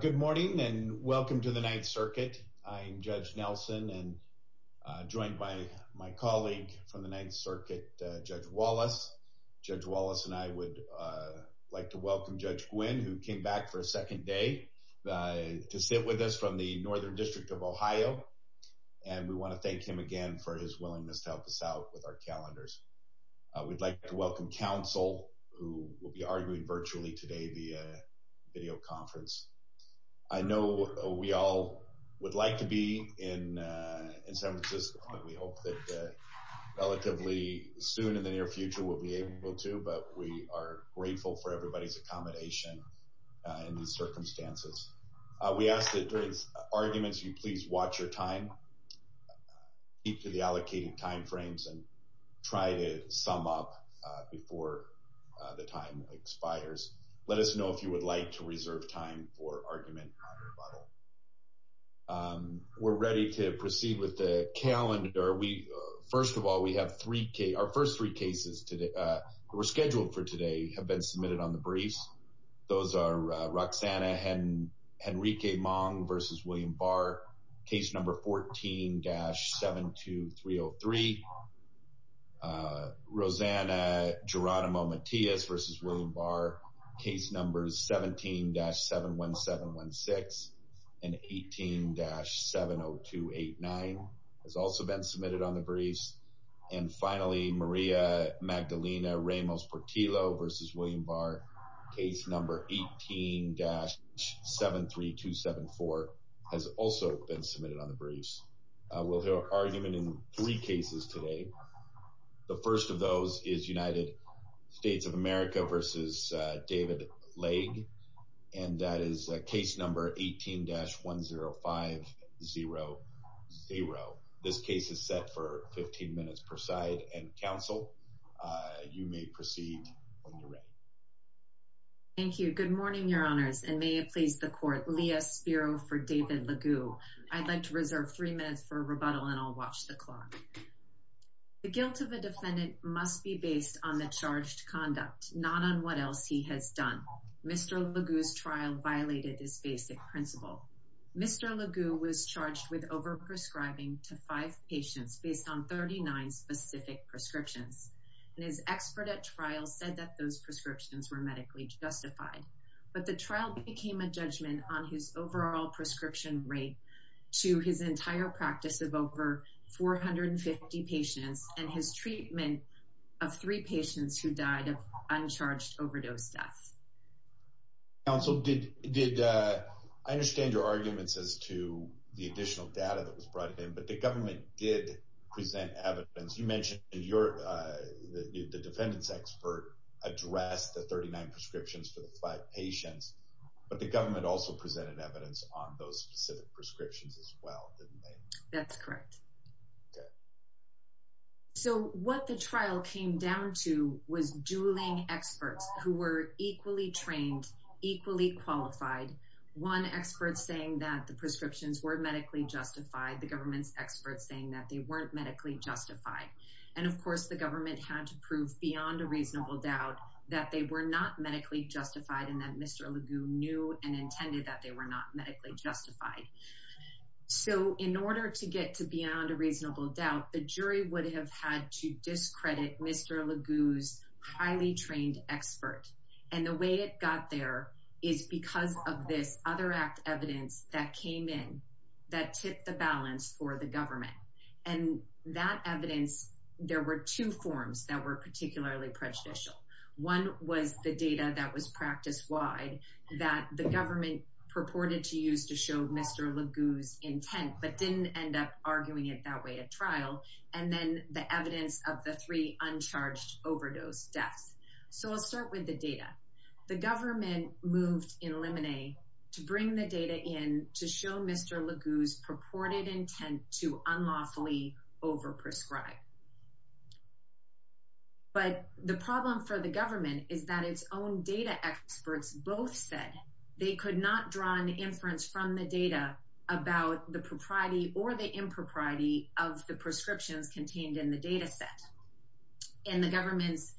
Good morning and welcome to the Ninth Circuit. I'm Judge Nelson and joined by my colleague from the Ninth Circuit, Judge Wallace. Judge Wallace and I would like to welcome Judge Gwynne who came back for a second day to sit with us from the Northern District of Ohio and we want to thank him again for his willingness to help us out with our calendars. We'd like to welcome counsel who will be arguing virtually today via video conference. I know we all would like to be in San Francisco and we hope that relatively soon in the near future we'll be able to but we are grateful for everybody's accommodation in these circumstances. We ask that during arguments you please watch your time, keep to the allocating time frames and try to sum up before the time expires. Let us know if you would like to reserve time for argument or rebuttal. We're ready to proceed with the calendar. First of all, we have three cases. Our first three cases that were scheduled for today have been submitted on the briefs. Those are Roxanna Henrique-Mong versus William Barr, case number 14-72303. Rosanna Geronimo-Matias versus William Barr, case number 17-71716 and 18-70289 has also been submitted on the briefs. And finally, Maria Magdalena Ramos-Portillo versus William Barr, case number 18-73274 has also been submitted on the briefs. We'll hear argument in three cases today. The first of those is United States of America versus David Laig and that is case number 18-10500. This case is set for 15 minutes per side and counsel, you may proceed when you're ready. Thank you. Good morning, your honors and may it please the court. Leah Spiro for David Laig. I'd like to reserve three minutes for rebuttal and I'll watch the clock. The guilt of a defendant must be based on the charged conduct, not on what else he has done. Mr. Laig's trial violated this basic principle. Mr. Laig was overprescribing to five patients based on 39 specific prescriptions. And his expert at trial said that those prescriptions were medically justified. But the trial became a judgment on his overall prescription rate to his entire practice of over 450 patients and his treatment of three patients who died of uncharged overdose deaths. Counsel, I understand your arguments as to the additional data that was brought in, but the government did present evidence. You mentioned the defendant's expert addressed the 39 prescriptions for the five patients, but the government also presented evidence on those specific prescriptions as well, didn't they? That's correct. Good. So what the trial came down to was dueling experts who were equally trained, equally qualified. One expert saying that the prescriptions were medically justified, the government's experts saying that they weren't medically justified. And of course, the government had to prove beyond a reasonable doubt that they were not medically justified and that Mr. Laig knew and intended that they were not medically justified. So in order to get to beyond a reasonable doubt, the jury would have had to discredit Mr. Laig's highly trained expert. And the way it got there is because of this other act evidence that came in that tipped the balance for the government. And that evidence, there were two forms that were particularly prejudicial. One was the data that was practice wide, that the government purported to use to show Mr. Laig's intent, but didn't end up arguing it that way at trial. And then the evidence of the three uncharged overdose deaths. So I'll start with the data. The government moved in Lemonade to bring the data in to show Mr. Laig's purported intent to unlawfully overprescribe. But the problem for the government is that its own data experts both said they could not draw an inference from the data about the propriety or the impropriety of the prescriptions contained in the data set. And the government's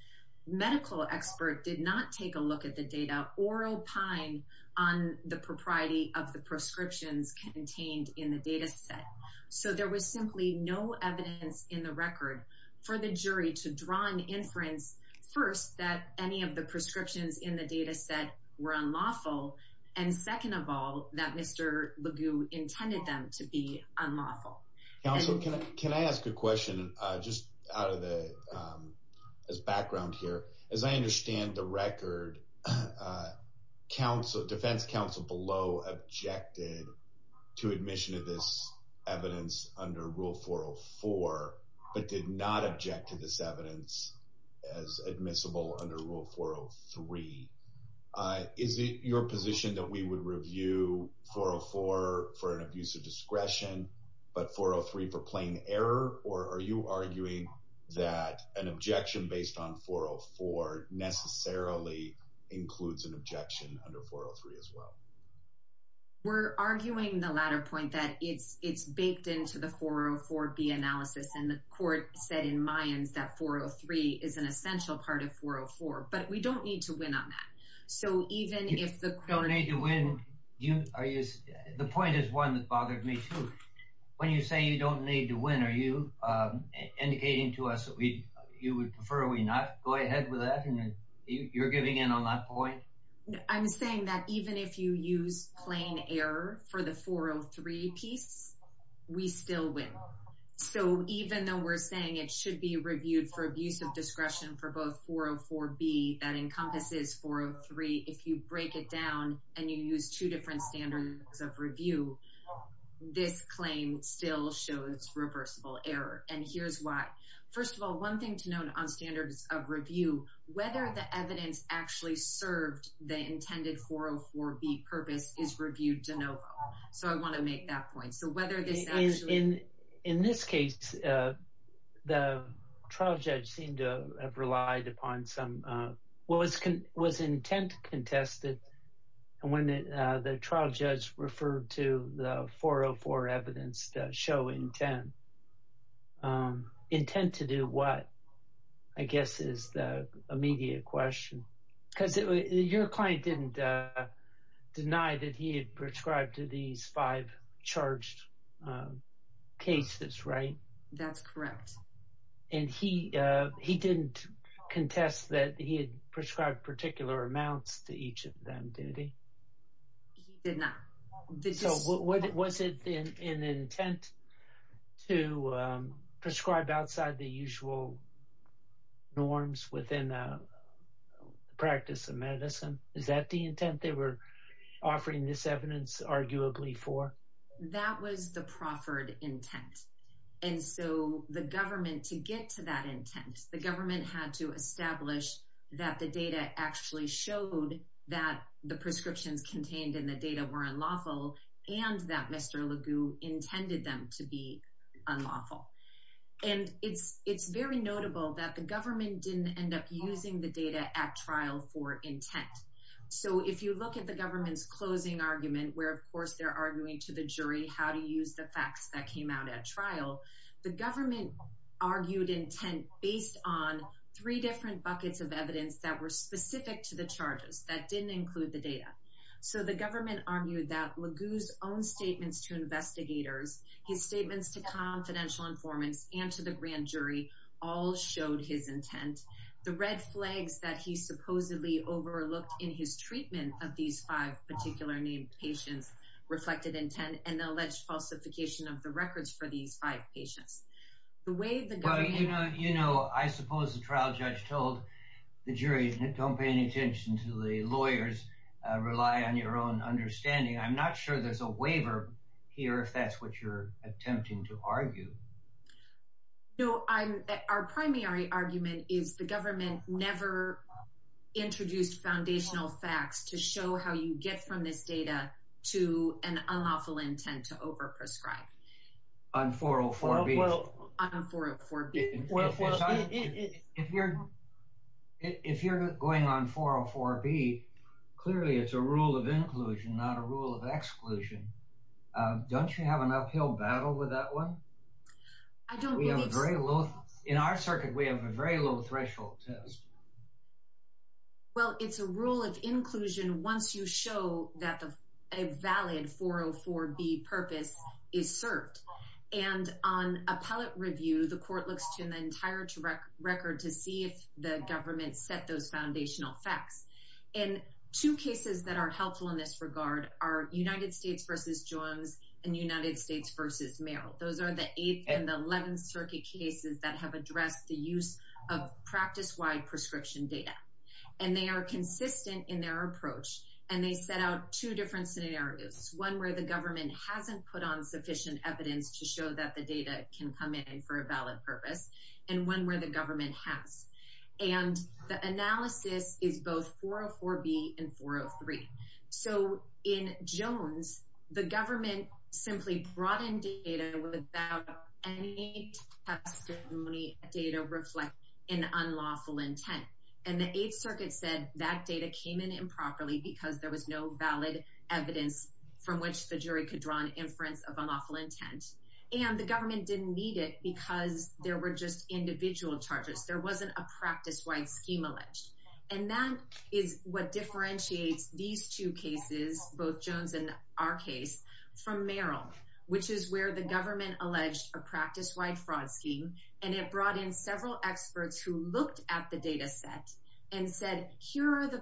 medical expert did not take a look at the data or opine on the propriety of the prescriptions contained in the data set. So there was simply no evidence in the record for the jury to draw an inference. First, that any of the prescriptions in the data set were unlawful. And second of all, that Mr. Laig intended them to be unlawful. Counselor, can I ask a question just out of the background here? As I understand the record, defense counsel below objected to admission of this evidence under Rule 404, but did not object to this evidence as admissible under Rule 403. Is it your position that we would review 404 for an abuse of discretion, but 403 for plain error? Or are you arguing that an objection based on 404 necessarily includes an objection under 403 as well? We're arguing the latter point that it's it's baked into the 404-B analysis. And the court said in Mayans that 403 is an essential part of 404. But we don't need to win on that. So even if the court... You don't need to win. The point is one that bothered me too. When you say you don't need to win, are you indicating to us that you would prefer we not go ahead with that? And you're giving in on that point? I'm saying that even if you use plain error for the 403 piece, we still win. So even though we're saying it should be reviewed for abuse of discretion for both 404-B that encompasses 403, if you break it down and you use two different standards of review, this claim still shows reversible error. And here's why. First of all, one thing to note on standards of review, whether the evidence actually served the intended 404-B purpose is reviewed de novo. So I want to make that point. So whether this actually... In this case, the trial judge seemed to have relied upon some... Was intent contested? And when the trial judge referred to the 404 evidence that show intent. Intent to do what, I guess, is the immediate question. Because your client didn't deny that he had prescribed to these five charged cases, right? That's correct. And he didn't contest that he had prescribed particular amounts to each of them, did he? He did not. So was it an intent to prescribe outside the usual norms within the practice of medicine? Is that the intent they were offering this evidence arguably for? That was the proffered intent. And so the government, to get to that intent, the government had to establish that the data actually showed that the prescriptions contained in the data were unlawful and that Mr. LeGue intended them to be unlawful. And it's very notable that the government didn't end up using the data at trial for intent. So if you look at the government's closing argument, where, of course, they're arguing to the jury how to use the facts that came out at trial, the government argued intent based on three different buckets of evidence that were specific to the charges that didn't include the data. So the government argued that LeGue's own statements to investigators, his statements to confidential informants, and to the grand jury all showed his intent. The red flags that he supposedly overlooked in his treatment of these five particular named patients reflected intent and the alleged falsification of the records for these five patients. The way the government... You know, I suppose the trial judge told the jury, don't pay any attention to the lawyers, rely on your own understanding. I'm not sure there's a waiver here, if that's what you're attempting to argue. No, our primary argument is the government never introduced foundational facts to show how you get from this data to an unlawful intent to over-prescribe. On 404B? Well, if you're going on 404B, clearly it's a rule of inclusion, not a rule of exclusion. Don't you have an uphill battle with that one? In our circuit, we have a very low threshold test. Well, it's a rule of inclusion once you show that a valid 404B purpose is served. And on appellate review, the court looks to the entire record to see if the government set those foundational facts. And two cases that are helpful in this regard are United States v. Jones and United States v. Merrill. Those are the eighth and the eleventh circuit cases that have addressed the use of practice-wide prescription data. And they are consistent in their approach. And they set out two different scenarios, one where the government hasn't put on sufficient evidence to show that the data can come in for a valid purpose, and one where the government has. And the analysis is both 404B and 403. So in Jones, the government simply brought in data without any testimony data reflecting an unlawful intent. And the eighth circuit said that data came in improperly because there was no valid evidence from which the jury could draw an inference of unlawful intent. And the government didn't need it because there were just individual charges. There wasn't a practice-wide scheme alleged. And that is what differentiates these two cases, both Jones and our case, from Merrill, which is where the government alleged a practice-wide fraud scheme. And it brought in several experts who looked at the data set and said, here are the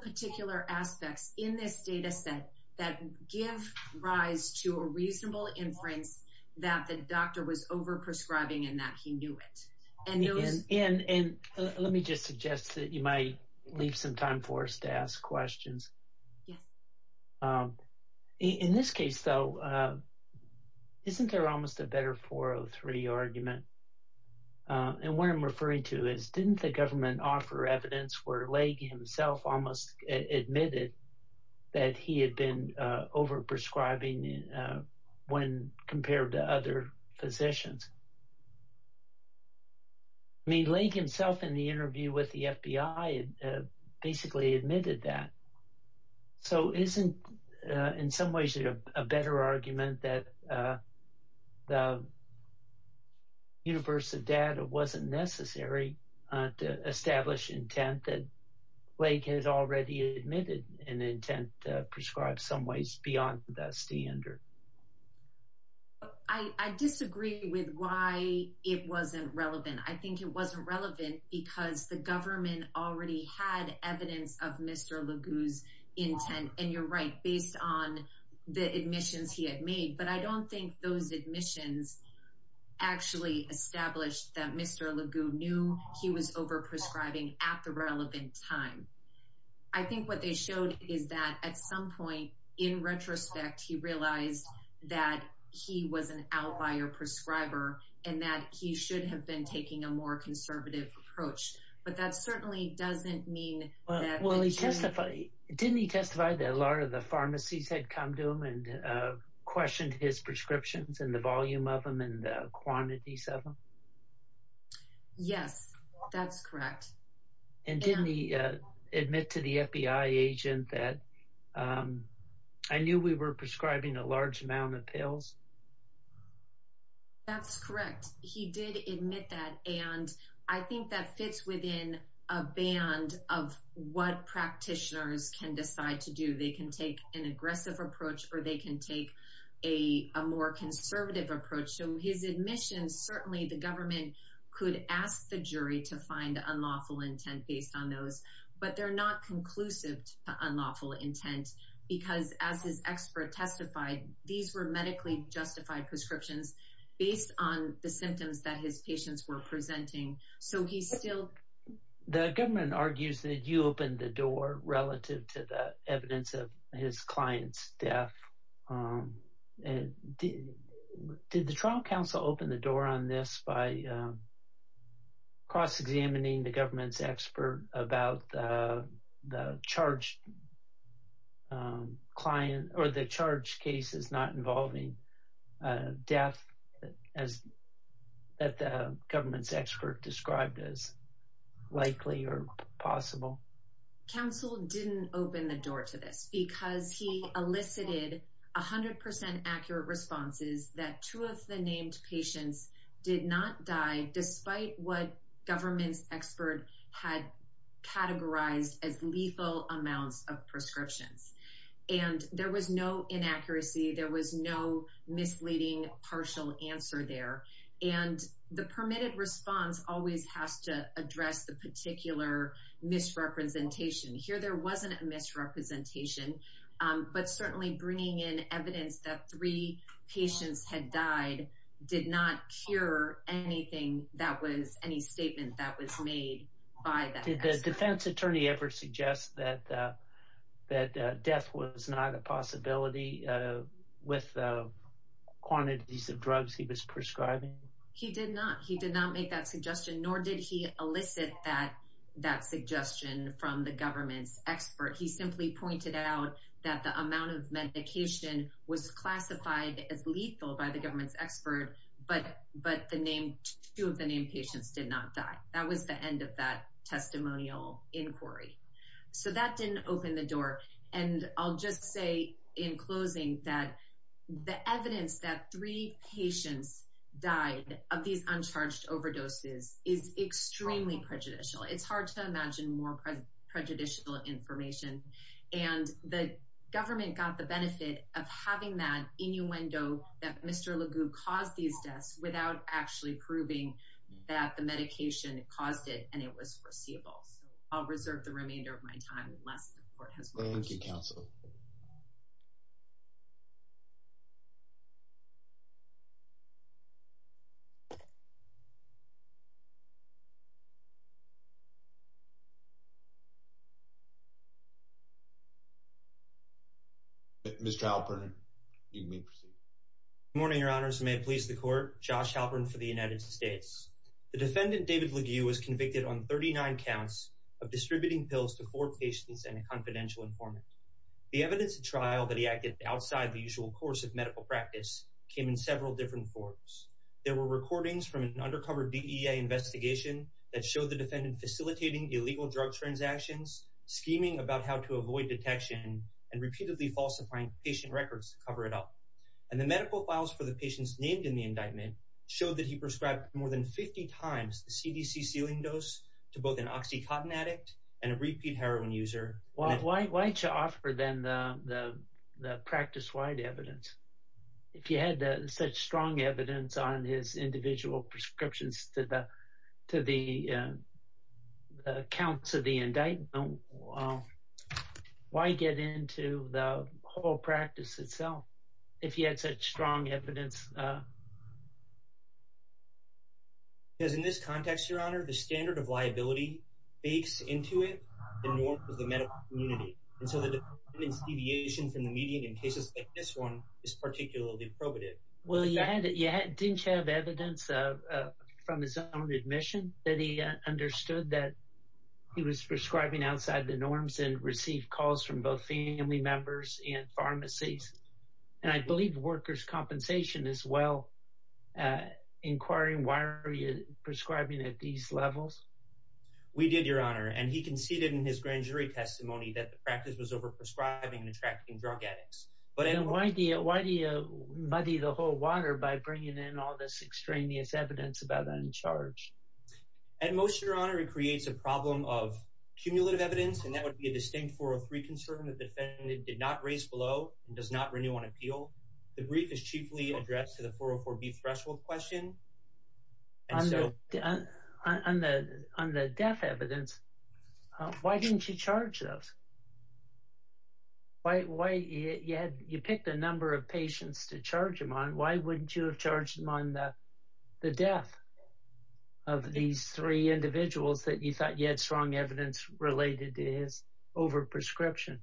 aspects in this data set that give rise to a reasonable inference that the doctor was over-prescribing and that he knew it. And those — And let me just suggest that you might leave some time for us to ask questions. Yes. In this case, though, isn't there almost a better 403 argument? And what I'm admitting is that he had been over-prescribing when compared to other physicians. I mean, Lake himself, in the interview with the FBI, basically admitted that. So isn't, in some ways, a better argument that the universe of data wasn't necessary to establish intent that Lake has already admitted an intent to prescribe some ways beyond that standard? I disagree with why it wasn't relevant. I think it wasn't relevant because the government already had evidence of Mr. LeGue's intent. And you're right, based on the admissions he had made. But I don't think those admissions actually established that Mr. LeGue knew he was over-prescribing at the relevant time. I think what they showed is that, at some point, in retrospect, he realized that he was an outlier prescriber and that he should have been taking a more conservative approach. But that certainly doesn't mean that — Well, he testified — didn't he testify that a lot of the pharmacies had come to him and questioned his prescriptions and the volume of them and the quantities of them? Yes, that's correct. And didn't he admit to the FBI agent that, I knew we were prescribing a large amount of pills? That's correct. He did admit that. And I think that fits within a band of what practitioners can decide to do. They can take an aggressive approach or they can take a more conservative approach. So his admissions, certainly the government could ask the jury to find unlawful intent based on those. But they're not conclusive to unlawful intent because, as his expert testified, these were medically justified prescriptions based on the symptoms that his patients were presenting. So he still — The government argues that you opened the door relative to the evidence of his client's death. Did the trial counsel open the door on this by cross-examining the government's expert about the charged client — or the charged cases not involving death as that the government's expert described as likely or possible? Counsel didn't open the door to this because he elicited 100 percent accurate responses that two of the named patients did not die despite what government's expert had categorized as lethal amounts of prescriptions. And there was no inaccuracy. There was no misleading partial answer there. And the permitted response always has to address the particular misrepresentation. Here there wasn't a misrepresentation. But certainly bringing in evidence that three patients had died did not cure anything that was — any statement that was made by that expert. Did the defense attorney ever suggest that death was not a possibility with the quantities of drugs he was prescribing? He did not. He did not make that suggestion, nor did he elicit that suggestion from the government's expert. He simply pointed out that the amount of medication was classified as lethal by the government's expert, but the two of the named patients did not die. That was the end of that testimonial inquiry. So that didn't open the door. And I'll just say in closing that the evidence that three patients died of these uncharged overdoses is extremely prejudicial. It's hard to imagine more prejudicial information. And the government got the benefit of having that innuendo that Mr. LeGault caused these deaths without actually proving that the medication caused it and it was foreseeable. So I'll reserve the remainder of my time unless the court has more questions. Mr. Halpern, you may proceed. Good morning, your honors. May it please the court. Josh Halpern for the United States. The defendant, David LeGault, was convicted on 39 counts of distributing pills to four patients and a confidential informant. The evidence of trial that he acted outside the usual course of medical practice came in several different forms. There were recordings from an undercover DEA investigation that showed the defendant facilitating illegal drug transactions, scheming about how to avoid detection, and repeatedly falsifying patient records to cover it up. And the medical files for the patients named in the indictment showed that he prescribed more than 50 times the CDC ceiling dose to both an OxyContin addict and a repeat heroin user. Why'd you offer them the the practice-wide evidence? If you had such strong evidence on his individual prescriptions to the to the counts of the indictment, why get into the whole practice itself if you had such strong evidence? Because in this context, your honor, the standard of liability bakes into it the norm of the medical community. And so the defendant's deviation from the median in cases like this one is particularly probative. Well, you didn't have evidence from his own admission that he understood that he was prescribing outside the norms and received calls from both family members and pharmacies. And I believe workers' compensation as well. Inquiring why are you prescribing at these levels? We did, your honor, and he conceded in his grand jury testimony that the practice was over-prescribing and attracting drug addicts. But why do you muddy the whole water by bringing in all this extraneous evidence about uncharged? At most, your honor, it creates a problem of cumulative evidence, and that would be a distinct 403 concern. The defendant did not raise below and does not renew on appeal. The brief is chiefly addressed to the 404B threshold question. And so... On the death evidence, why didn't you charge those? You picked a number of patients to charge him on. Why wouldn't you have charged him on the death of these three individuals that you thought you had strong evidence related to his over-prescription?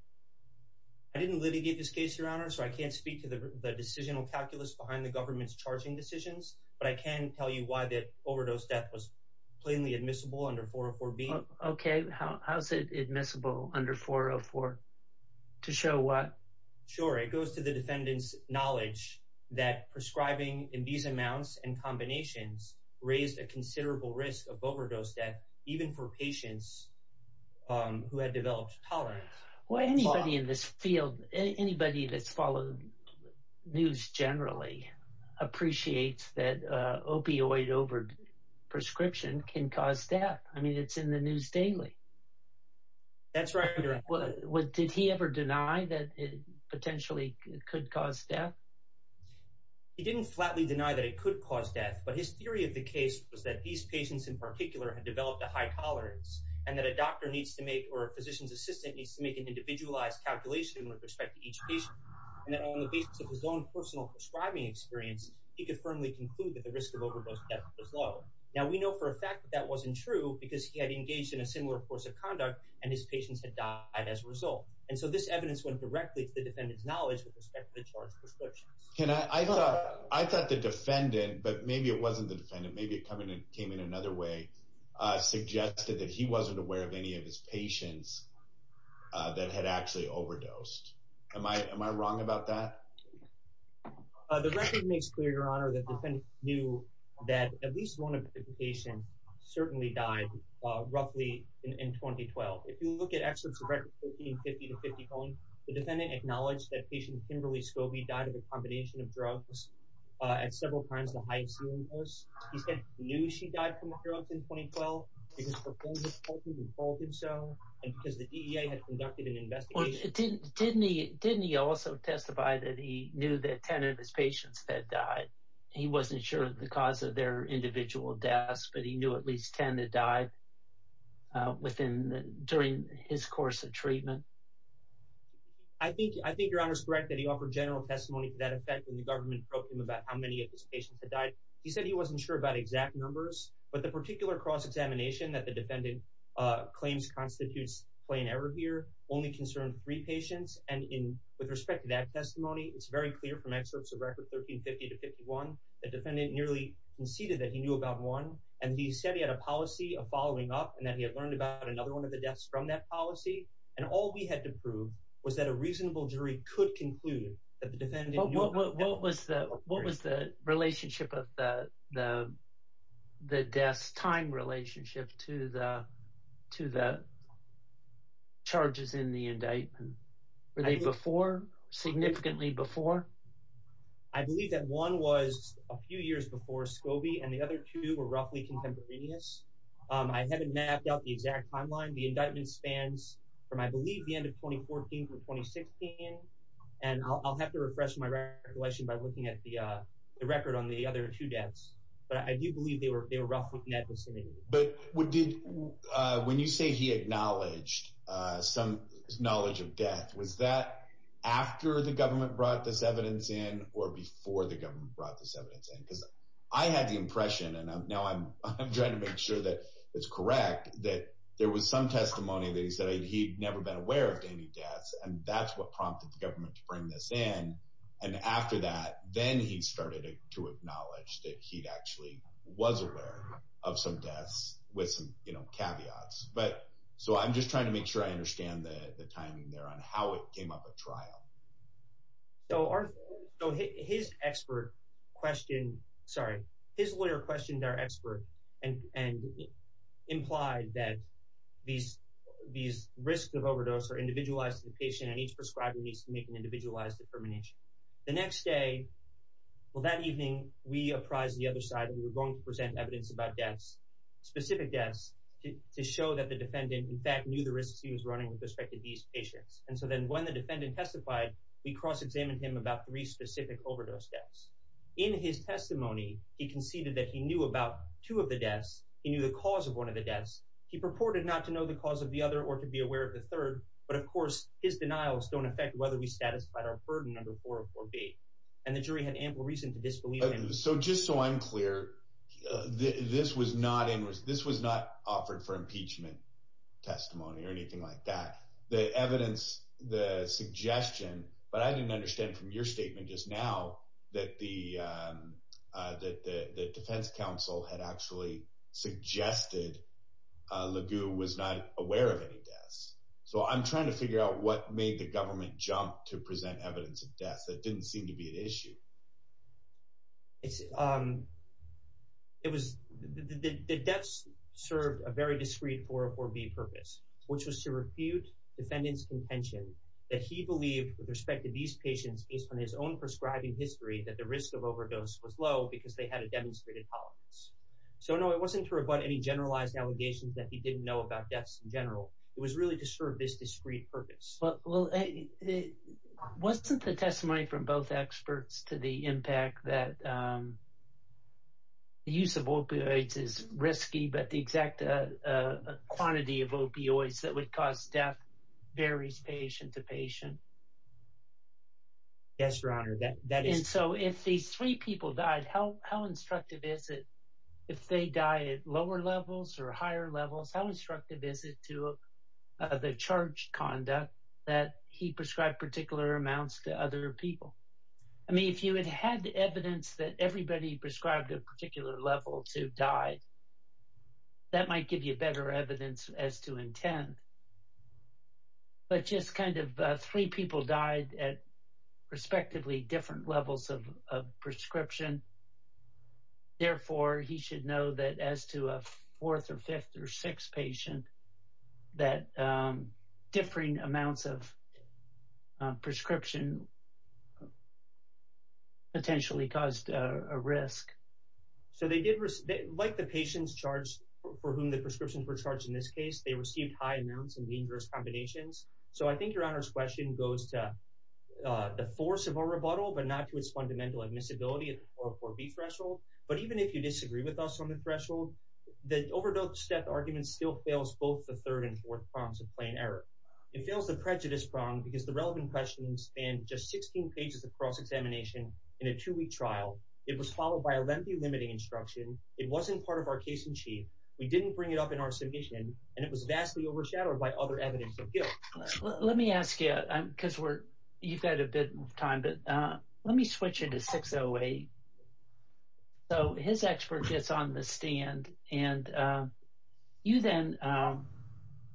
I didn't litigate this case, your honor, so I can't speak to the decisional calculus behind the government's charging decisions, but I can tell you why that overdose death was plainly admissible under 404B. Okay, how's it admissible under 404? To show what? Sure, it goes to the defendant's knowledge that prescribing in these amounts and combinations raised a considerable risk of overdose death, even for patients who had developed tolerance. Well, anybody in this field, anybody that's followed news generally appreciates that opioid over-prescription can cause death. I mean, it's in the news daily. That's right, your honor. Did he ever deny that it potentially could cause death? He didn't flatly deny that it could cause death, but his theory of the case was that these patients in particular had developed a high tolerance, and that a doctor needs to make, or a physician's assistant needs to make an individualized calculation with respect to each patient, and that on the basis of his own personal prescribing experience, he could firmly conclude that the risk of overdose death was low. Now, we know for a fact that that wasn't true because he had engaged in a similar course of conduct, and his patients had died as a result, and so this Can I, I thought, I thought the defendant, but maybe it wasn't the defendant, maybe it coming and came in another way, suggested that he wasn't aware of any of his patients that had actually overdosed. Am I, am I wrong about that? The record makes clear, your honor, that defendants knew that at least one of the patients certainly died roughly in 2012. If you look at excerpts of records 1550 to 1551, the defendant acknowledged that patient Kimberly Scobie died of a combination of drugs at several times the high ceiling dose. He said he knew she died from the drugs in 2012 because her father reported and told him so, and because the DEA had conducted an investigation. Didn't, didn't he, didn't he also testify that he knew that 10 of his patients had died? He wasn't sure of the cause of their individual deaths, but he knew at least 10 had died within, during his course of treatment. I think, I think your honor's correct that he offered general testimony to that effect when the government broke him about how many of his patients had died. He said he wasn't sure about exact numbers, but the particular cross-examination that the defendant claims constitutes plain error here only concerned three patients, and in, with respect to that testimony, it's very clear from excerpts of record 1350 to 1551, the defendant nearly conceded that he knew about one, and he said he had a policy of following up, and that he had learned about another one of the deaths from that policy, and all we had to prove was that a reasonable jury could conclude that the defendant knew. What, what, what was the, what was the relationship of the, the, the death's time relationship to the, to the charges in the indictment? Were they before, significantly before? I believe that one was a few years before Scobie, and the other two were roughly contemporaneous. I haven't mapped out the exact timeline. The indictment spans from, I believe, the end of 2014 to 2016, and I'll, I'll have to refresh my recollection by looking at the, uh, the record on the other two deaths, but I do believe they were, they were roughly in that vicinity. But what did, uh, when you say he acknowledged, uh, some knowledge of death, was that after the or before the government brought this evidence in? Because I had the impression, and now I'm, I'm trying to make sure that it's correct, that there was some testimony that he said he'd never been aware of any deaths, and that's what prompted the government to bring this in, and after that, then he started to acknowledge that he actually was aware of some deaths with some, you know, caveats. But, so I'm just trying to make sure I understand the, the timing there and how it came up at trial. So our, so his expert questioned, sorry, his lawyer questioned our expert and, and implied that these, these risks of overdose are individualized to the patient, and each prescriber needs to make an individualized determination. The next day, well, that evening, we apprised the other side, and we were going to present evidence about deaths, specific deaths, to show that the defendant, in fact, knew the risks he was running with these patients, and so then when the defendant testified, we cross-examined him about three specific overdose deaths. In his testimony, he conceded that he knew about two of the deaths, he knew the cause of one of the deaths, he purported not to know the cause of the other, or to be aware of the third, but of course, his denials don't affect whether we satisfied our burden under 404B, and the jury had ample reason to disbelieve him. So just so I'm clear, this was not in, this was not offered for impeachment testimony or anything like that. The evidence, the suggestion, but I didn't understand from your statement just now, that the, that the Defense Council had actually suggested LeGault was not aware of any deaths. So I'm trying to figure out what made the government jump to present evidence of deaths. That didn't seem to be an issue. It was, the deaths served a very discreet 404B purpose, which was to refute defendant's contention that he believed, with respect to these patients, based on his own prescribing history, that the risk of overdose was low because they had a demonstrated tolerance. So no, it wasn't to rebut any generalized allegations that he didn't know about deaths in general. It was really to serve this discreet purpose. Well, wasn't the testimony from both experts to the impact that the use of opioids is risky, but the exact quantity of opioids that would cause death varies patient to patient? Yes, Your Honor, that is true. And so if these three people died, how instructive is it, if they died at lower levels or higher conduct, that he prescribed particular amounts to other people? I mean, if you had had evidence that everybody prescribed a particular level to die, that might give you better evidence as to intend. But just kind of three people died at respectively different levels of prescription. Therefore, he should know that as to a fourth or fifth or sixth patient, that differing amounts of prescription potentially caused a risk. So they did, like the patients charged, for whom the prescriptions were charged, in this case, they received high amounts and dangerous combinations. So I think Your Honor's question goes to the force of a rebuttal, but not to its fundamental admissibility at the 404B threshold. But even if you disagree with us on the threshold, the overdose death argument still fails both the third and fourth prongs of plain error. It fails the prejudice prong because the relevant questions span just 16 pages of cross-examination in a two-week trial. It was followed by a lengthy limiting instruction. It wasn't part of our case in chief. We didn't bring it up in our submission, and it was vastly overshadowed by other evidence of guilt. Let me ask you, because you've got a bit of time, but let me switch you to 608. So his expert gets on the stand, and you then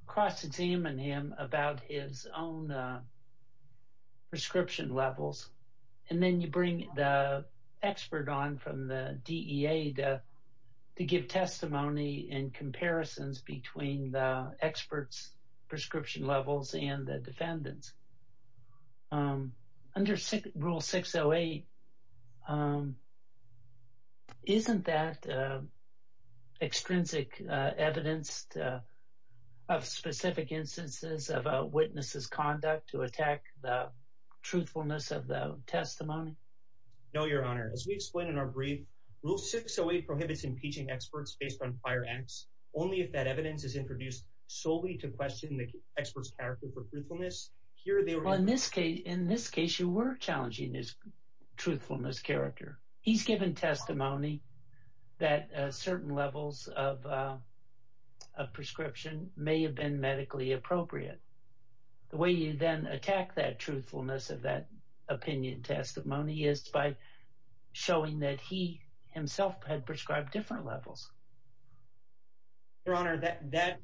cross-examine him about his own prescription levels. And then you bring the expert on from the DEA to give testimony in comparisons between the expert's prescription levels and the defendant's. Under Rule 608, isn't that extrinsic evidence of specific instances of a witness's conduct to attack the truthfulness of the testimony? No, Your Honor. As we explained in our brief, Rule 608 prohibits impeaching experts based on prior acts only if that evidence is introduced solely to question the expert's character for truthfulness. Here, they were— Well, in this case, you were challenging his truthfulness character. He's given testimony that certain levels of prescription may have been medically appropriate. The way you then attack that truthfulness of that opinion testimony is by showing that he himself had prescribed different levels. Your Honor, that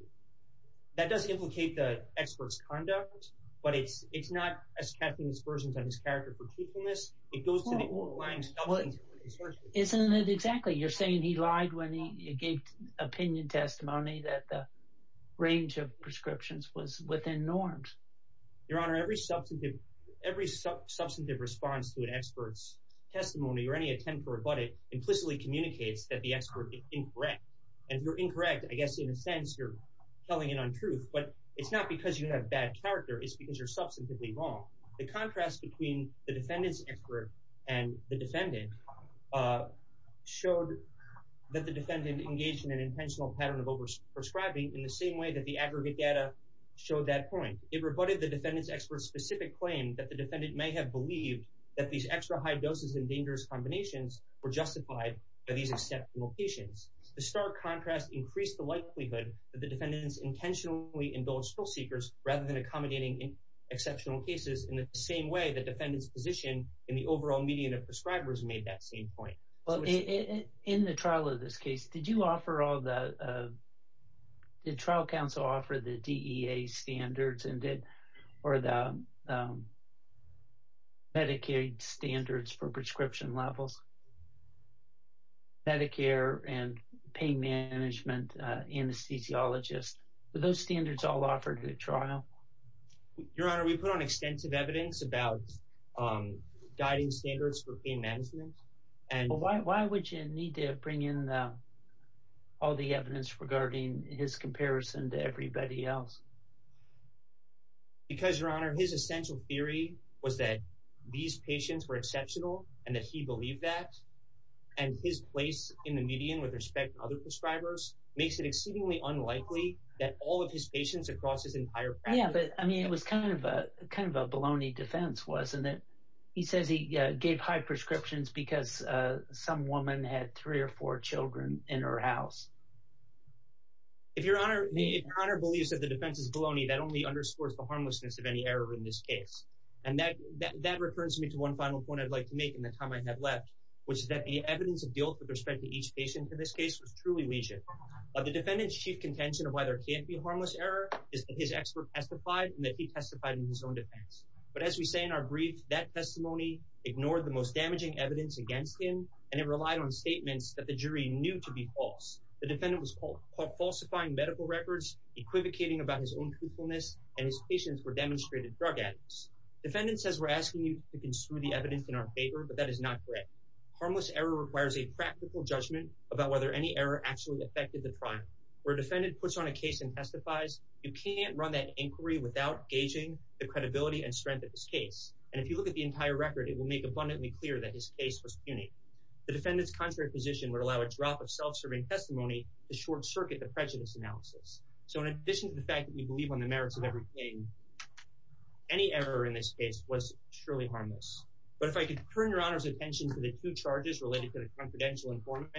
does implicate the expert's conduct, but it's not attacking his versions of his character for truthfulness. It goes to the old lines— Well, isn't it exactly? You're saying he lied when he gave opinion testimony that the range of prescriptions was within norms. Your Honor, every substantive response to an expert's communicates that the expert is incorrect. If you're incorrect, I guess in a sense you're telling an untruth, but it's not because you have bad character. It's because you're substantively wrong. The contrast between the defendant's expert and the defendant showed that the defendant engaged in an intentional pattern of over-prescribing in the same way that the aggregate data showed that point. It rebutted the defendant's expert's specific claim that the defendant may have believed that these extra high doses and these exceptional patients. The stark contrast increased the likelihood that the defendant's intentionally indulged still-seekers rather than accommodating exceptional cases in the same way the defendant's position in the overall median of prescribers made that same point. Well, in the trial of this case, did you offer all the— did trial counsel offer the DEA standards or the Medicaid standards for prescription levels? Medicare and pain management anesthesiologists, were those standards all offered in the trial? Your Honor, we put on extensive evidence about guiding standards for pain management. Why would you need to bring in all the evidence regarding his comparison to everybody else? Because, Your Honor, his essential theory was that these patients were exceptional and that he believed that, and his place in the median with respect to other prescribers makes it exceedingly unlikely that all of his patients across his entire practice— Yeah, but, I mean, it was kind of a baloney defense, wasn't it? He says he gave high prescriptions because some woman had three or four children in her house. If Your Honor believes that the defense is baloney, that only underscores the harmlessness of any error in this case. And that refers me to one final point I'd like to make in the time I have left, which is that the evidence of guilt with respect to each patient in this case was truly legion. But the defendant's chief contention of why there can't be harmless error is that his expert testified and that he testified in his own defense. But as we say in our brief, that testimony ignored the most damaging evidence against him, and it relied on statements that the jury knew to be false. The defendant was falsifying medical records, equivocating about his own truthfulness, and his patients were demonstrated drug addicts. The defendant says we're asking you to construe the evidence in our favor, but that is not correct. Harmless error requires a practical judgment about whether any error actually affected the trial. Where a defendant puts on a case and testifies, you can't run that inquiry without gauging the credibility and strength of his case. And if you look at the entire record, it will make abundantly clear that his case was puny. The defendant's contrary position would allow a drop of self-serving testimony to short-circuit the prejudice analysis. So in addition to the fact that we believe on the merits of every pain, any error in this case was surely harmless. But if I could turn your Honor's attention to the two charges related to the confidential informant,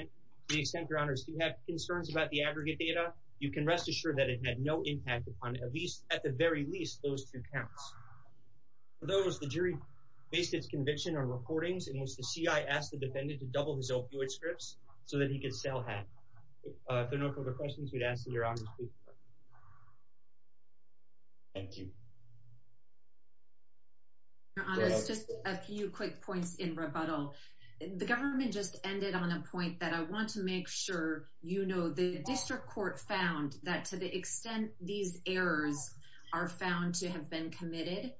to the extent your Honors do have concerns about the aggregate data, you can rest assured that it had no impact upon at least, at the very least, those two counts. For those, the jury based its conviction on recordings in which the CI asked the defendant to double his opioid scripts so that he could sell half. If there are no further questions, we'd ask that your Honors speak first. Thank you. Your Honors, just a few quick points in rebuttal. The government just ended on a point that I want to make sure you know. The District Court found that to the extent these errors are found to have been committed,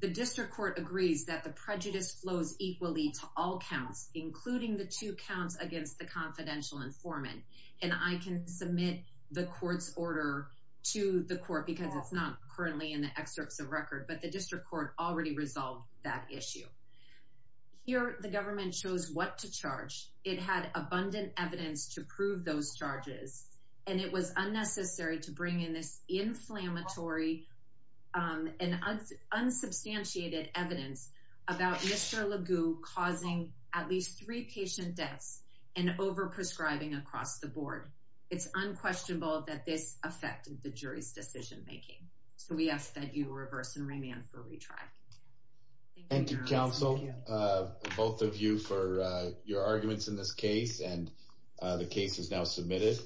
the District Court agrees that the prejudice flows equally to all counts, including the two counts against the confidential informant. And I can submit the Court's order to the Court because it's not currently in the excerpts of record, but the District Court already resolved that issue. Here, the government chose what to charge. It had abundant evidence to prove those charges, and it was unnecessary to bring in this inflammatory and unsubstantiated evidence about Mr. LeGue causing at least three patient deaths and overprescribing across the board. It's unquestionable that this affected the jury's decision making. So we ask that you reverse and remand for retry. Thank you, Counsel, both of you for your arguments in this case and the case is now submitted.